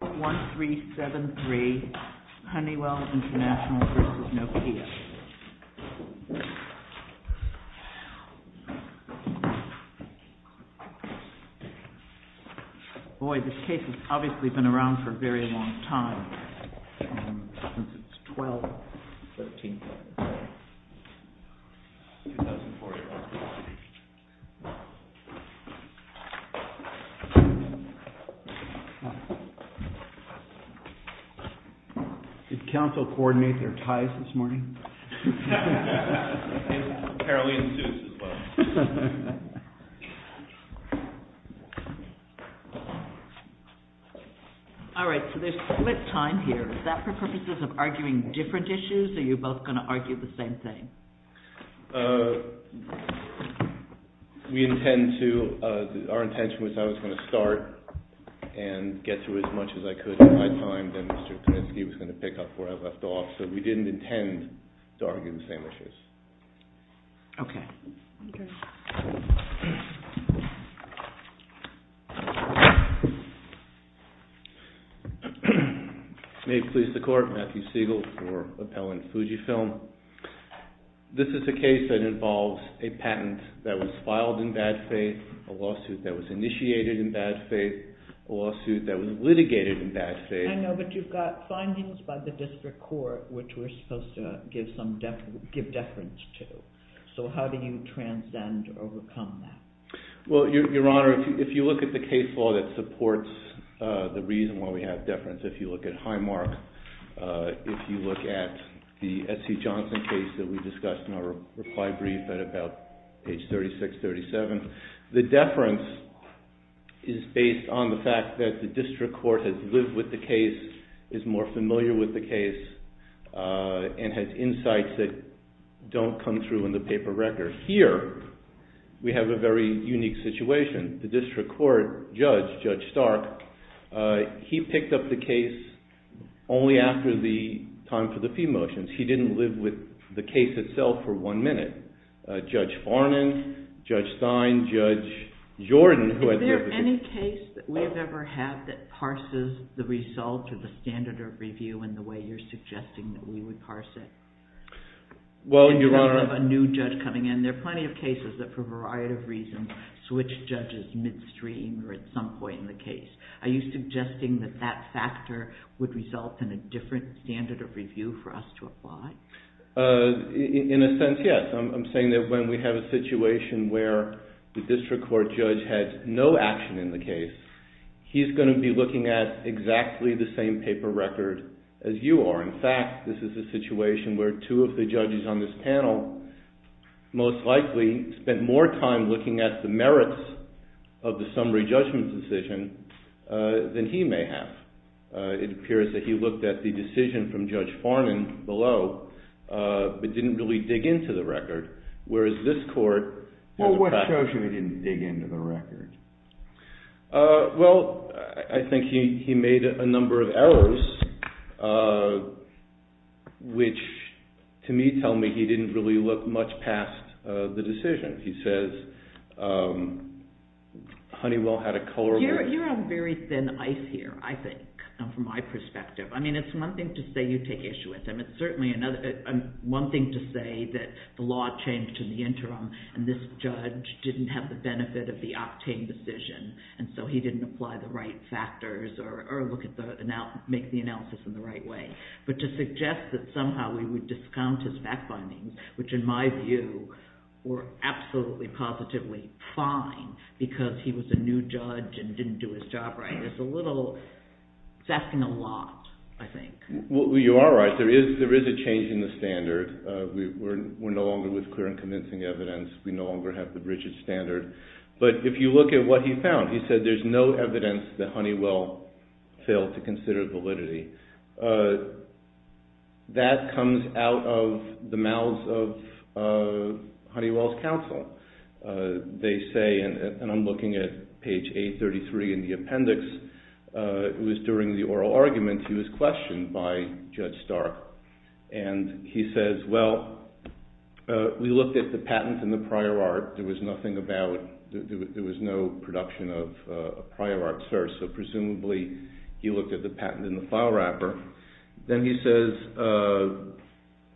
1373 Honeywell International v. Nokia Boy, this case has obviously been around for a very long time Since it's 12-13-2014 Did counsel coordinate their ties this morning? Apparently in suits as well Alright, so there's split time here Is that for purposes of arguing different issues or are you both going to argue the same thing? We intend to Our intention was I was going to start and get through as much as I could in my time Then Mr. Kuniski was going to pick up where I left off So we didn't intend to argue the same issues May it please the court Matthew Siegel for Appellant Fujifilm This is a case that involves a patent that was filed in bad faith A lawsuit that was initiated in bad faith A lawsuit that was litigated in bad faith I know but you've got findings by the district court which we're supposed to give deference to So how do you transcend or overcome that? Well your honor, if you look at the case law that supports the reason why we have deference If you look at Highmark, if you look at the SC Johnson case That we discussed in our reply brief at about page 36-37 The deference is based on the fact that the district court has lived with the case Is more familiar with the case And has insights that don't come through in the paper record Here we have a very unique situation The district court judge, Judge Stark, he picked up the case only after the time for the fee motions He didn't live with the case itself for one minute Judge Farnan, Judge Stein, Judge Jordan Is there any case that we've ever had that parses the result of the standard of review In the way you're suggesting that we would parse it? In terms of a new judge coming in, there are plenty of cases that for a variety of reasons switch judges Midstream or at some point in the case. Are you suggesting that that factor would result In a different standard of review for us to apply? In a sense, yes. I'm saying that when we have a situation where The district court judge had no action in the case, he's going to be looking at Exactly the same paper record as you are. In fact, this is a situation where Two of the judges on this panel most likely spent more time looking at The merits of the summary judgment decision than he may have It appears that he looked at the decision from Judge Farnan below But didn't really dig into the record, whereas this court Well, what shows you he didn't dig into the record? Well, I think he made a number of errors Which to me tell me he didn't really look much past the decision He says Honeywell had a color You're on very thin ice here, I think, from my perspective. I mean, it's one thing to say You take issue with him. It's certainly one thing to say that the law changed in the interim And this judge didn't have the benefit of the octane decision, and so he didn't apply The right factors or make the analysis in the right way. But to suggest That somehow we would discount his back findings, which in my view were Absolutely positively fine, because he was a new judge and didn't do his job right It's a little, it's asking a lot, I think Well, you are right. There is a change in the standard. We're no longer with clear and convincing evidence We no longer have the rigid standard. But if you look at what he found, he said there's no evidence That Honeywell failed to consider validity That comes out of the mouths of Honeywell's counsel They say, and I'm looking at page 833 in the appendix It was during the oral argument he was questioned by Judge Stark And he says, well, we looked at the patent and the prior art There was nothing about, there was no production of a prior art search So presumably he looked at the patent and the file wrapper Then he says,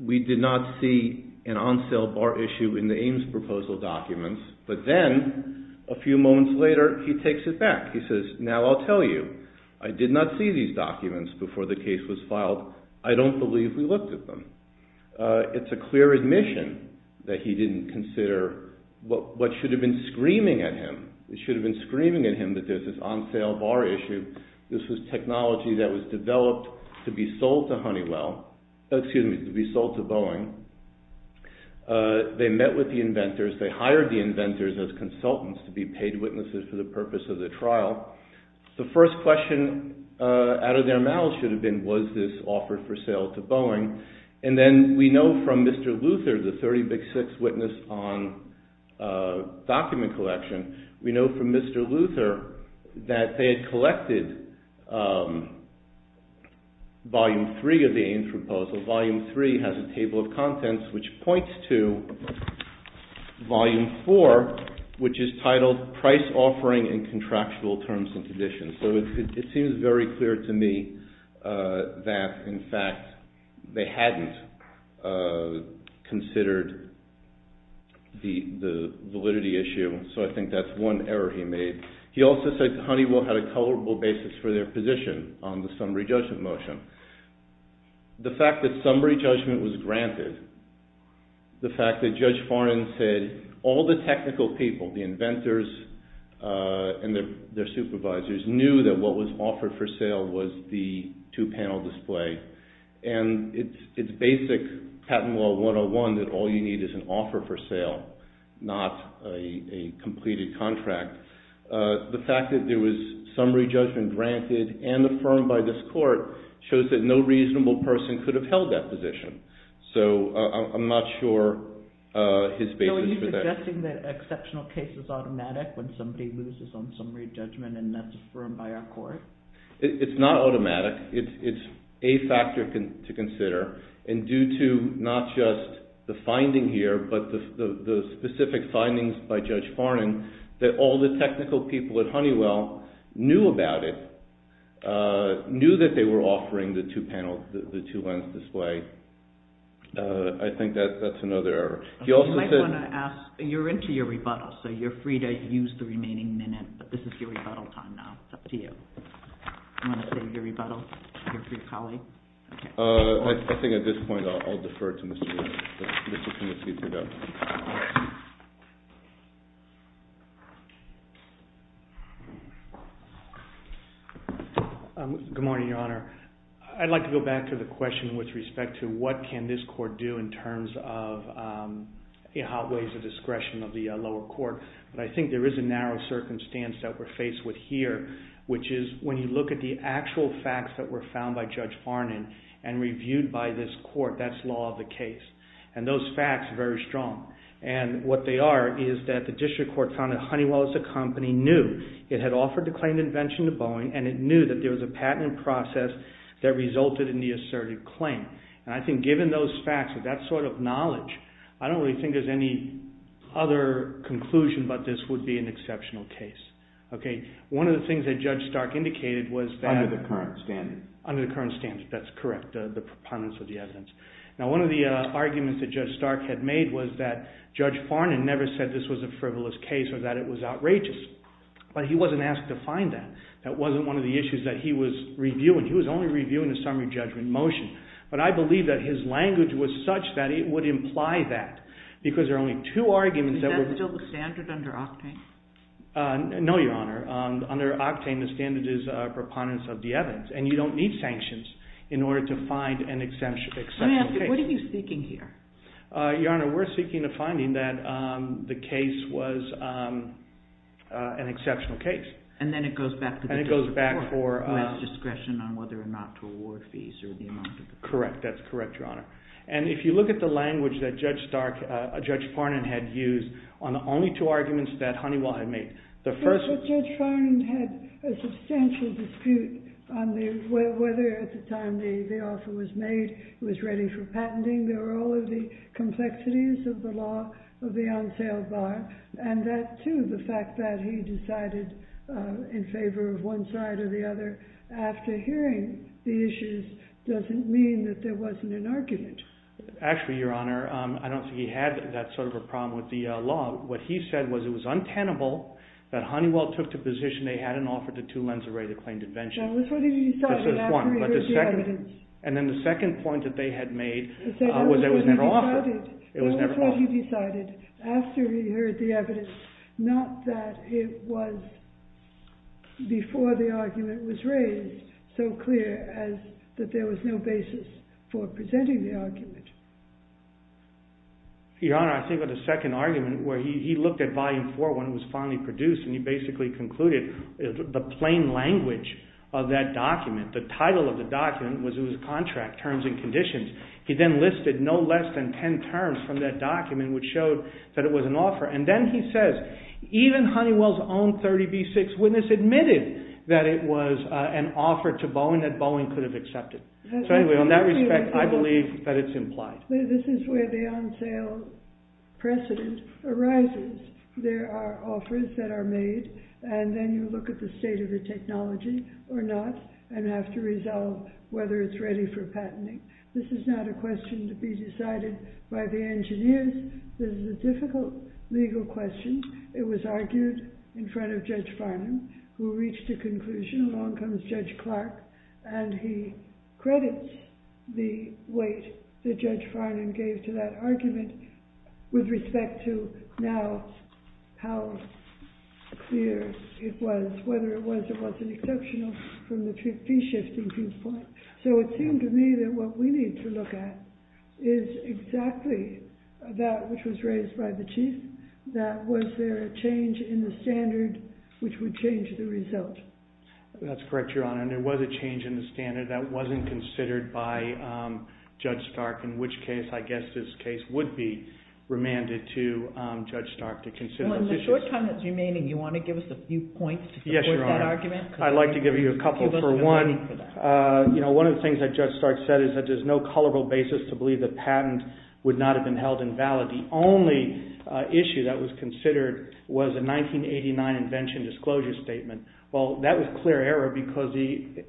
we did not see an on sale bar issue in the Ames proposal documents But then a few moments later he takes it back. He says, now I'll tell you I did not see these documents before the case was filed. I don't believe we looked at them It's a clear admission that he didn't consider what should have been screaming at him It should have been screaming at him that there's this on sale bar issue This was technology that was developed to be sold to Honeywell, excuse me, to be sold to Boeing They met with the inventors, they hired the inventors as consultants To be paid witnesses for the purpose of the trial The first question out of their mouths should have been, was this offered for sale to Boeing And then we know from Mr. Luther, the Thirty Big Six witness on document collection We know from Mr. Luther that they had collected Volume 3 of the Ames proposal Volume 3 has a table of contents which points to Volume 4 which is titled Price Offering in Contractual Terms and Conditions So it seems very clear to me that in fact They hadn't considered the validity issue So I think that's one error he made He also said Honeywell had a colorable basis for their position on the summary judgment motion The fact that summary judgment was granted The fact that Judge Farnan said all the technical people, the inventors And their supervisors knew that what was offered for sale was the two panel display And it's basic patent law 101 that all you need is an offer for sale Not a completed contract The fact that there was summary judgment granted and affirmed by this court Shows that no reasonable person could have held that position So I'm not sure his basis for that It's not automatic It's a factor to consider and due to not just The finding here but the specific findings by Judge Farnan That all the technical people at Honeywell knew about it Knew that they were offering the two panels, the two lens display I think that's another error. You're into your rebuttal so you're free to use the remaining minute But this is your rebuttal time now. I'd like to go back to the question with respect to what can this court do in terms of It outweighs the discretion of the lower court but I think there is a narrow circumstance that we're faced with here Which is when you look at the actual facts that were found by Judge Farnan And reviewed by this court, that's law of the case and those facts are very strong And what they are is that the district court found that Honeywell as a company knew It had offered the claimed invention to Boeing and it knew that there was a patent process That resulted in the asserted claim and I think given those facts and that sort of knowledge I don't really think there's any other conclusion but this would be an exceptional case. One of the things that Judge Stark indicated was that Under the current standards, that's correct, the proponents of the evidence. Now one of the arguments that Judge Stark had made was that Judge Farnan never said this was a frivolous case or that it was outrageous But he wasn't asked to find that. That wasn't one of the issues that he was reviewing. He was only reviewing the summary judgment motion but I believe that his language was such that it would imply that Because there are only two arguments... Is that still the standard under Octane? No, Your Honor. Under Octane, the standard is proponents of the evidence and you don't need sanctions In order to find an exceptional case. Let me ask you, what are you seeking here? Your Honor, we're seeking a finding that the case was an exceptional case. And then it goes back to the court who has discretion on whether or not to award fees. Correct. That's correct, Your Honor. And if you look at the language that Judge Farnan had used on the only two arguments that Honeywell had made Judge Farnan had a substantial dispute on whether at the time the offer was made It was ready for patenting. There were all of the complexities of the law of the on-sale bar And that too, the fact that he decided in favor of one side or the other After hearing the issues doesn't mean that there wasn't an argument. Actually, Your Honor, I don't think he had that sort of a problem with the law What he said was it was untenable that Honeywell took the position they hadn't offered the two lens array to claim defension. That was what he decided after he heard the evidence. That was what he decided after he heard the evidence Not that it was before the argument was raised So clear as that there was no basis for presenting the argument. Your Honor, I think of the second argument where he looked at Volume 4 When it was finally produced and he basically concluded the plain language of that document The title of the document was it was contract terms and conditions He then listed no less than 10 terms from that document which showed that it was an offer And then he says even Honeywell's own 30B6 witness admitted that it was an offer to Boeing that Boeing could have accepted So anyway, on that respect, I believe that it's implied. This is where the on-sale precedent arises. There are offers that are made and then you look at the state of the technology or not And have to resolve whether it's ready for patenting This is not a question to be decided by the engineers. This is a difficult legal question It was argued in front of Judge Farman who reached a conclusion Along comes Judge Clark and he credits the weight that Judge Farman gave to that argument With respect to now how clear it was Whether it was or wasn't exceptional from the fee-shifting viewpoint So it seemed to me that what we need to look at is exactly that which was raised by the Chief That was there a change in the standard which would change the result That's correct, Your Honor. There was a change in the standard that wasn't considered by Judge Stark In which case I guess this case would be remanded to Judge Stark to consider those issues Well in the short time that's remaining, do you want to give us a few points to support that argument? Yes, Your Honor. I'd like to give you a couple for one. One of the things that Judge Stark said is that there's no culpable basis to believe the patent would not have been held invalid The only issue that was considered was a 1989 invention disclosure statement Well that was clear error because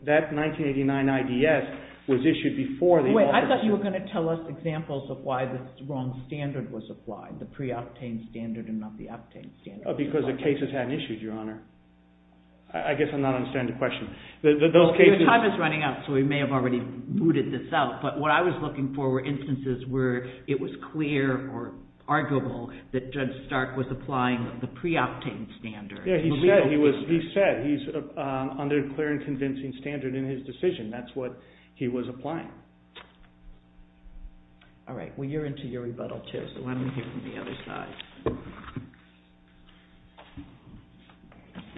that 1989 IDS was issued before Wait, I thought you were going to tell us examples of why the wrong standard was applied The pre-obtained standard and not the obtained standard Because the cases hadn't issued, Your Honor. I guess I'm not understanding the question Your time is running out so we may have already booted this out But what I was looking for were instances where it was clear or arguable that Judge Stark was applying the pre-obtained standard Yeah, he said he's under a clear and convincing standard in his decision That's what he was applying Alright, well you're into your rebuttal too so why don't we hear from the other side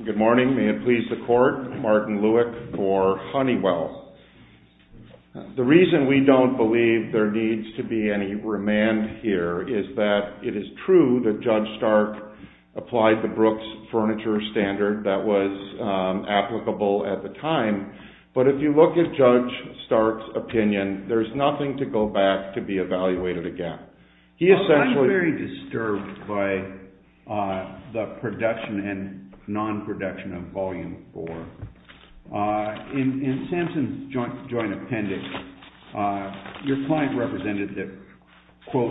Good morning. May it please the Court Martin Lueck for Honeywell The reason we don't believe there needs to be any remand here is that it is true that Judge Stark Applied the Brooks Furniture Standard that was applicable at the time But if you look at Judge Stark's opinion, there's nothing to go back to be evaluated again I'm very disturbed by the production and non-production of Volume 4 In Samson's joint appendix Your client represented that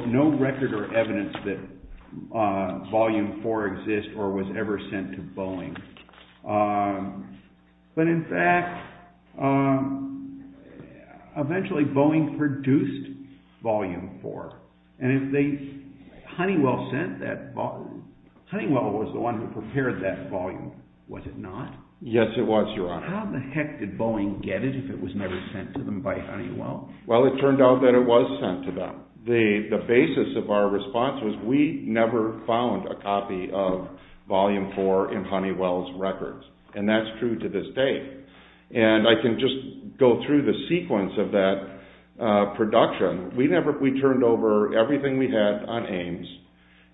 No record or evidence that Volume 4 exists or was ever sent to Boeing But in fact Eventually Boeing produced Volume 4 Honeywell was the one who prepared that volume Was it not? Yes it was Your Honor How the heck did Boeing get it if it was never sent to them by Honeywell? Well it turned out that it was sent to them The basis of our response was we never found a copy of Volume 4 in Honeywell's records And that's true to this day And I can just go through the sequence of that production We turned over everything we had on Ames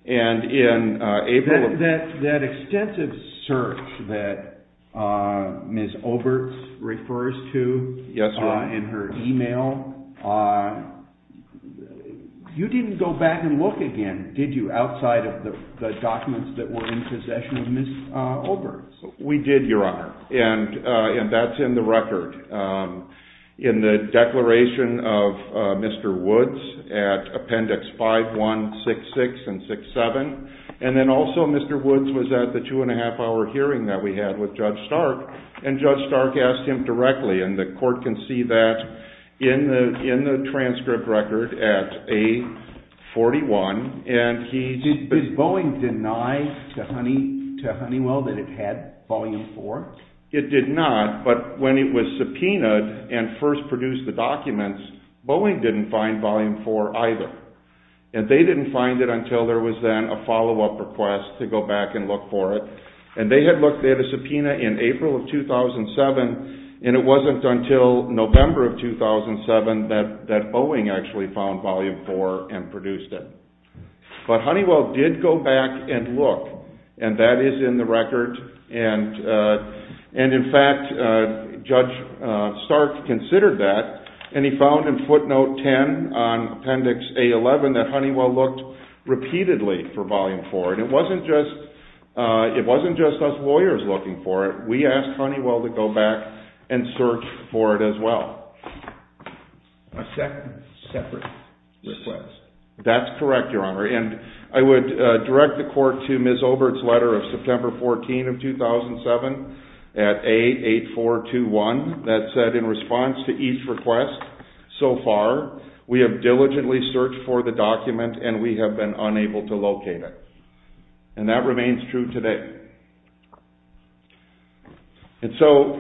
That extensive search that Ms. Olberts Refers to in her email You didn't go back and look again, did you? Outside of the documents that were in possession of Ms. Olberts We did Your Honor, and that's in the record In the declaration of Mr. Woods At appendix 5166 and 617 And then also Mr. Woods was at the two and a half hour hearing that we had with Judge Stark And Judge Stark asked him directly, and the court can see that in the transcript record At A41 Did Boeing deny to Honeywell that it had Volume 4? It did not, but when it was subpoenaed And first produced the documents, Boeing didn't find Volume 4 either And they didn't find it until there was then a follow-up request to go back and look for it And they had a subpoena in April of 2007 And it wasn't until November of 2007 that Boeing actually found Volume 4 and produced it But Honeywell did go back and look And that is in the record And in fact Judge Stark considered that and he found in footnote 10 On appendix A11 that Honeywell looked repeatedly for Volume 4 And it wasn't just us lawyers looking for it, we asked Honeywell to go back And search for it as well A second separate request? That's correct Your Honor, and I would direct the court to Ms. Obert's letter of September 14 of 2007 At A8421 that said in response to each request so far We have diligently searched for the document and we have been unable to locate it And that remains true today And so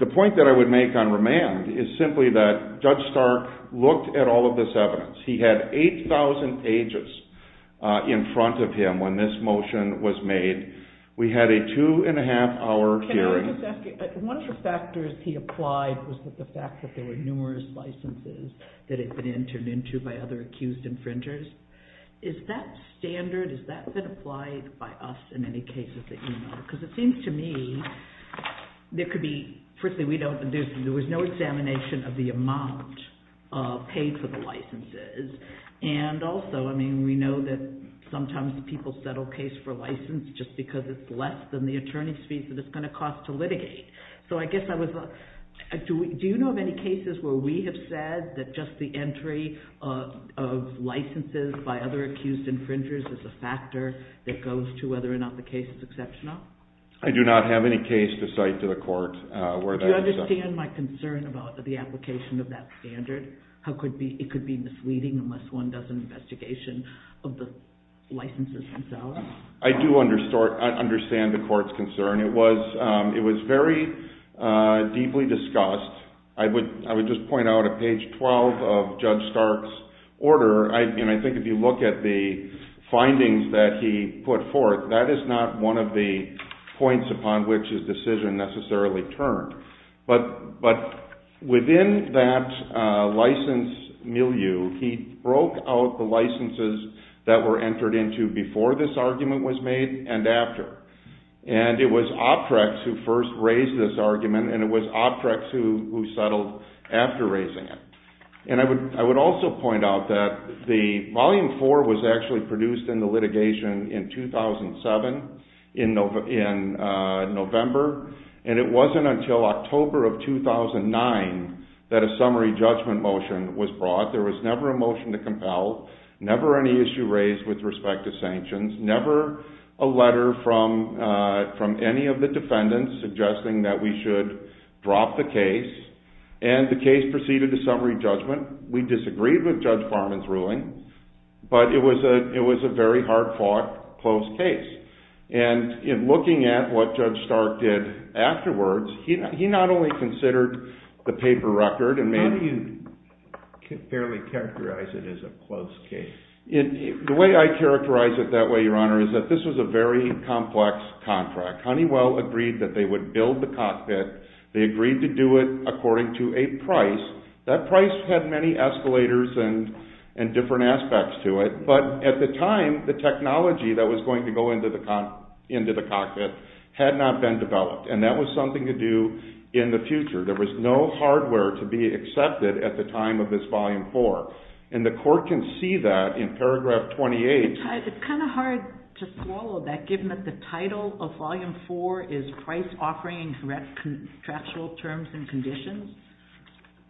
the point that I would make on remand is simply that Judge Stark Looked at all of this evidence. He had 8,000 pages in front of him When this motion was made. We had a two and a half hour hearing One of the factors he applied was the fact that there were numerous licenses That had been entered into by other accused infringers Is that standard, has that been applied by us in any cases that you know? Because it seems to me, there could be, there was no examination of the amount Paid for the licenses and also I mean we know that People settle cases for licenses just because it's less than the attorney's fees that it's going to cost to litigate So I guess I was, do you know of any cases where we have said That just the entry of licenses by other accused infringers is a factor That goes to whether or not the case is exceptional? I do not have any case to cite to the court where that is Do you understand my concern about the application of that standard? It could be misleading unless one does an investigation of the licenses themselves I do understand the court's concern. It was very Deeply discussed. I would just point out at page 12 of Judge Stark's Order and I think if you look at the findings that he put forth That is not one of the points upon which his decision necessarily turned But within that license milieu He broke out the licenses that were entered into before this argument was made And after. And it was Optrex who first raised this argument And it was Optrex who settled after raising it. And I would also Point out that the volume 4 was actually produced in the litigation in 2007 In November. And it wasn't until October of 2009 That a summary judgment motion was brought. There was never a motion to compel Never any issue raised with respect to sanctions. Never a letter From any of the defendants suggesting that we should drop the case And the case proceeded to summary judgment. We disagreed with Judge Farman's ruling But it was a very hard fought, close case. And Looking at what Judge Stark did afterwards, he not only considered The paper record and made... How do you fairly characterize it as a close case? The way I characterize it that way, Your Honor, is that this was a very complex Contract. Honeywell agreed that they would build the cockpit. They agreed to do it And different aspects to it. But at the time, the technology that was going to go Into the cockpit had not been developed. And that was something to do in the future There was no hardware to be accepted at the time of this volume 4. And the court Can see that in paragraph 28. It's kind of hard to swallow that Given that the title of volume 4 is Price Offering and Correct Contractual Terms And Conditions,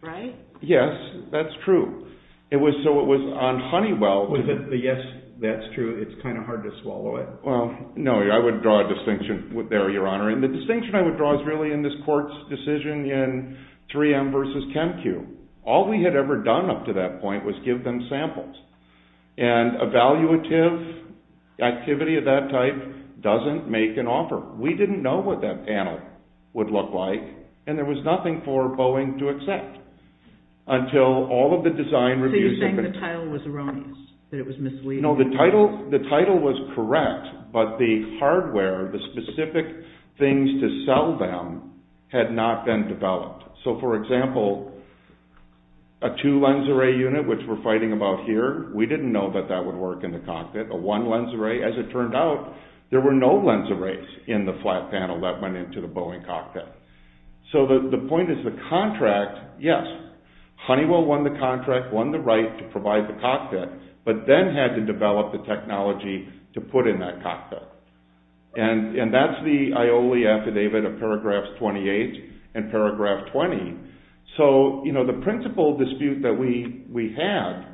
right? Yes, that's true. It was so it was On Honeywell... But yes, that's true. It's kind of hard to swallow it. Well, no, I Would draw a distinction there, Your Honor. And the distinction I would draw is really in this court's decision In 3M versus CHEMQ. All we had ever done up to that point was give them samples. And evaluative activity of that type doesn't Make an offer. We didn't know what that panel would look like. And there was nothing for Boeing to accept until all of the design reviews... So you're saying the title was erroneous? That it was misleading? No, the title was correct, but the hardware The specific things to sell them had not been developed. So, for example, a two-lens array unit, which we're fighting about here We didn't know that that would work in the cockpit. A one-lens array, as it turned out, there were no lens Arrays in the flat panel that went into the Boeing cockpit. So the point is the Contract, yes, Honeywell won the contract, won the right to provide the cockpit But then had to develop the technology to put in that cockpit. And that's the IOLI affidavit of paragraphs 28 and paragraph 20. So, you know, the principal dispute that we had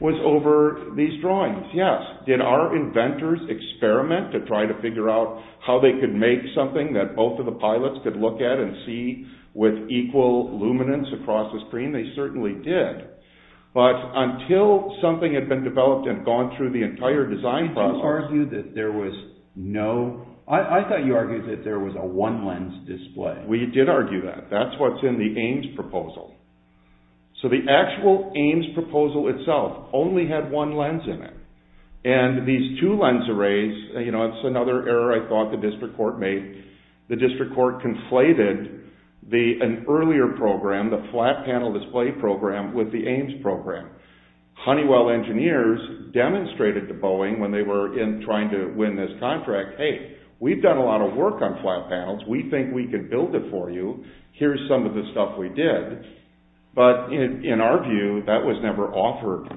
was over These drawings. Yes, did our inventors experiment to try to figure out How they could make something that both of the pilots could look at and see with equal Luminance across the screen? They certainly did. But until something had been Developed and gone through the entire design process... You argued that there was no... So the actual AIMS proposal itself only had one lens in it. And these two-lens arrays, you know, it's another error I thought the district court made. The district court conflated an earlier program, the flat panel Display program, with the AIMS program. Honeywell engineers demonstrated To Boeing when they were trying to win this contract, hey, we've done a lot of work on But in our view, that was never offered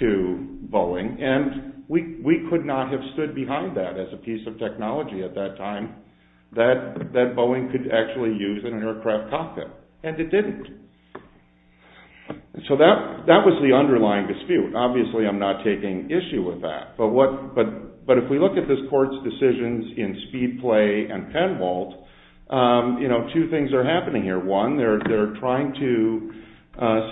to Boeing. And we could not have stood behind that as a piece of technology at that time That Boeing could actually use in an aircraft cockpit. And it didn't. So that was the underlying dispute. Obviously, I'm not taking issue With that. But if we look at this court's decisions in Speedplay and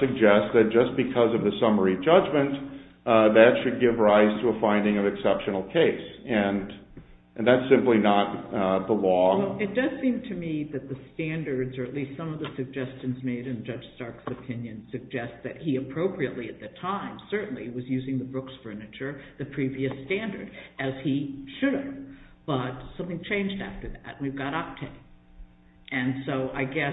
Suggest that just because of the summary judgment, that should give rise to a Finding of exceptional case. And that's simply not the law. It does seem to me that the standards, or at least some of the suggestions made in Judge Stark's opinion Suggest that he appropriately at the time certainly was using the Brooks furniture, the previous Standard, as he should have. But something changed after that. And so I guess,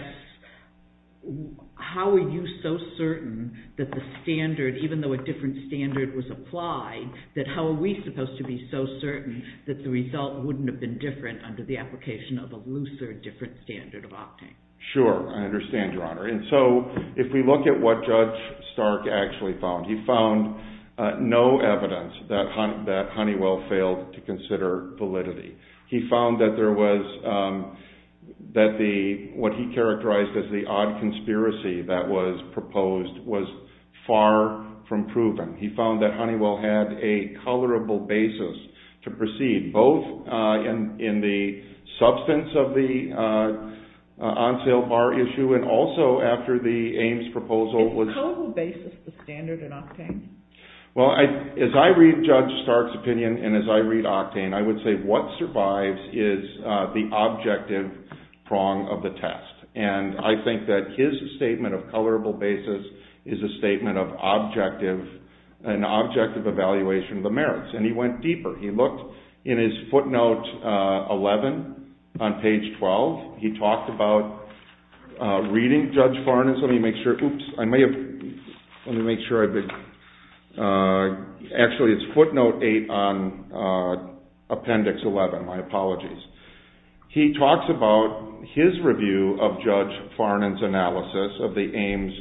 how are you so certain that the standard Even though a different standard was applied, that how are we supposed to be so certain That the result wouldn't have been different under the application of a looser, different standard of octane? Sure. I understand, Your Honor. And so if we look at what Judge Stark Actually found, he found no evidence that Honeywell failed To consider validity. He found that there was What he characterized as the odd conspiracy that was proposed was Far from proven. He found that Honeywell had a colorable basis To proceed, both in the substance of the On sale bar issue and also after the Ames proposal was Well, as I read Judge Stark's opinion, and as I read octane, I would say What survives is the objective prong of the test. And I think that his statement of colorable basis is a statement of Objective evaluation of the merits. And he went deeper. He looked In his footnote 11 on page 12. He talked about Reading Judge Farnan's, let me make sure, oops, I may have, let me make sure I've been Actually, it's footnote 8 on appendix 11. My apologies. He talks about his review of Judge Farnan's Analysis of the Ames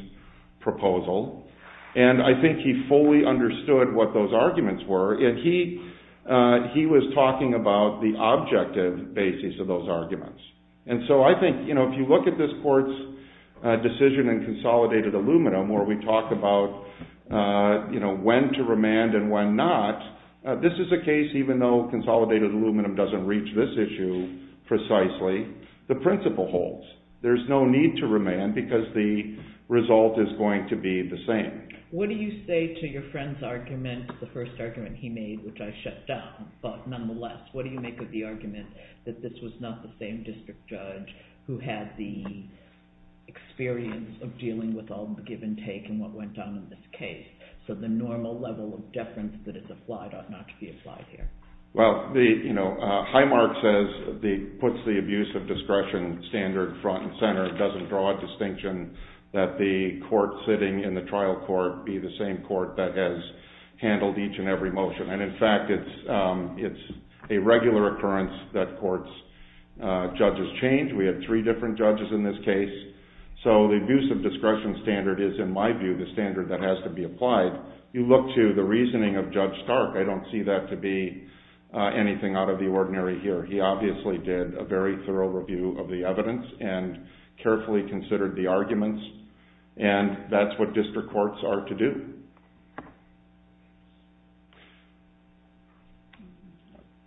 proposal, and I think he fully Understood what those arguments were, and he was talking about The objective basis of those arguments. And so I think if you look at this court's Decision in consolidated aluminum where we talk about When to remand and when not, this is a case, even though consolidated aluminum Doesn't reach this issue precisely, the principle holds. There's no need to Remand because the result is going to be the same. What do you say to your friend's argument, the first argument he made, which I shut down, but Nonetheless, what do you make of the argument that this was not the same district judge who Had the experience of dealing with all the give and take and what went down in this Case? So the normal level of deference that is applied ought not to be applied here. Well, you know, Highmark says, puts the abuse of discretion standard Front and center. It doesn't draw a distinction that the court sitting in the trial court Be the same court that has handled each and every motion. And in fact, it's A regular occurrence that courts, judges change. We have three different judges In this case. So the abuse of discretion standard is, in my view, the standard that has to Be applied. You look to the reasoning of Judge Stark. I don't see that to be Anything out of the ordinary here. He obviously did a very thorough review of the evidence and Carefully considered the arguments. And that's what district courts are to do.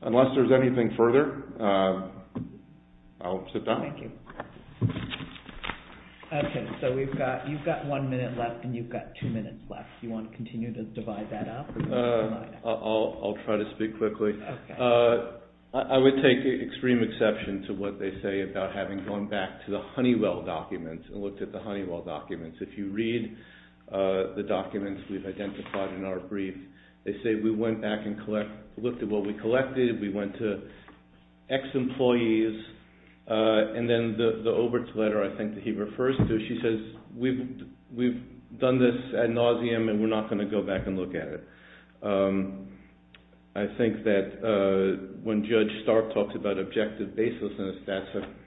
Unless there's anything further, I'll sit down. Okay, so we've got, you've got one minute left and you've got two minutes left. Do you want to continue to divide that up? I'll try to speak quickly. I would take extreme exception to what they say about having gone back to the Honeywell documents and looked at the Honeywell documents. If you read the documents We've identified in our brief, they say we went back and looked at what we collected. We went to X employees and then the We're not going to go back and look at it. I think that when Judge Stark Talks about objective baselessness,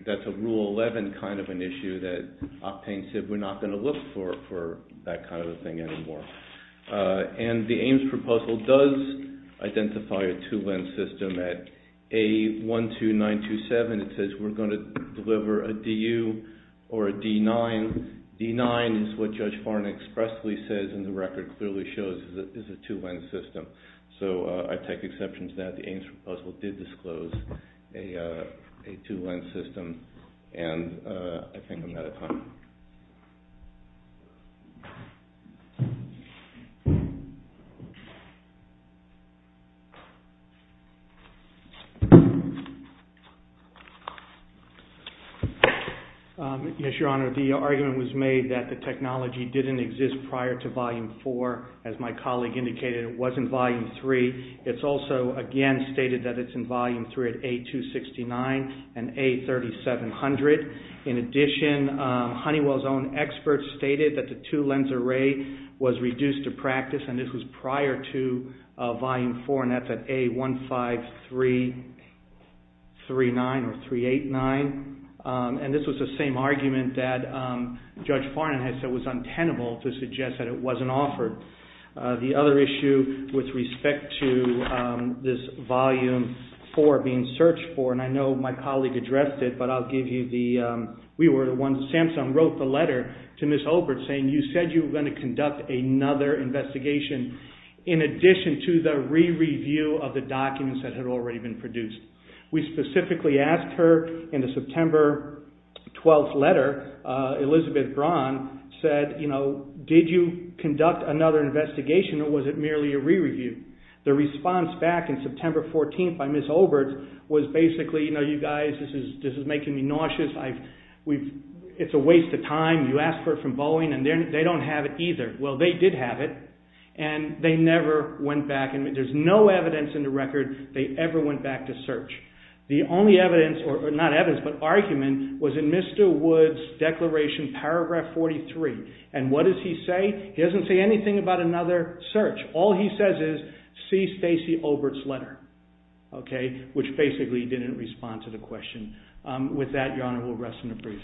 that's a rule 11 kind of an issue that Octane said we're not going to look for that kind of a thing anymore. And the Ames proposal does identify a two lens system at A12927. It says we're going to deliver a DU or a D9. D9 is what Judge Farnan expressly says in the record clearly shows Is a two lens system. So I take exception to that. The Ames proposal did disclose A two lens system. And I think I'm out of time. Yes. Your Honor, the argument was made that the technology didn't Exist prior to volume four. As my colleague indicated, it wasn't volume three. It's also again stated that it's in volume three at A269 and A3700. In addition, Honeywell's own experts Stated that the two lens array was reduced to practice and this was prior to Volume four and that's at A15339 Or 389. And this was the same argument that Judge Farnan Had said was untenable to suggest that it wasn't offered. The other issue with Respect to this volume four being searched for, and I know my Colleague, Ms. Obert, saying you said you were going to conduct another investigation in addition To the re-review of the documents that had already been produced. We specifically Asked her in the September 12th letter, Elizabeth Braun Said, you know, did you conduct another investigation or was it merely a re-review? The response back in September 14th by Ms. Obert was basically, you know, you Don't have it either. Well, they did have it and they never went back And there's no evidence in the record they ever went back to search. The only evidence Or not evidence, but argument was in Mr. Wood's declaration, paragraph 43 And what does he say? He doesn't say anything about another search. All he says is See Stacey Obert's letter, okay, which basically didn't respond to the question. With that, Your Honor, we'll rest and debrief. Thank you very much.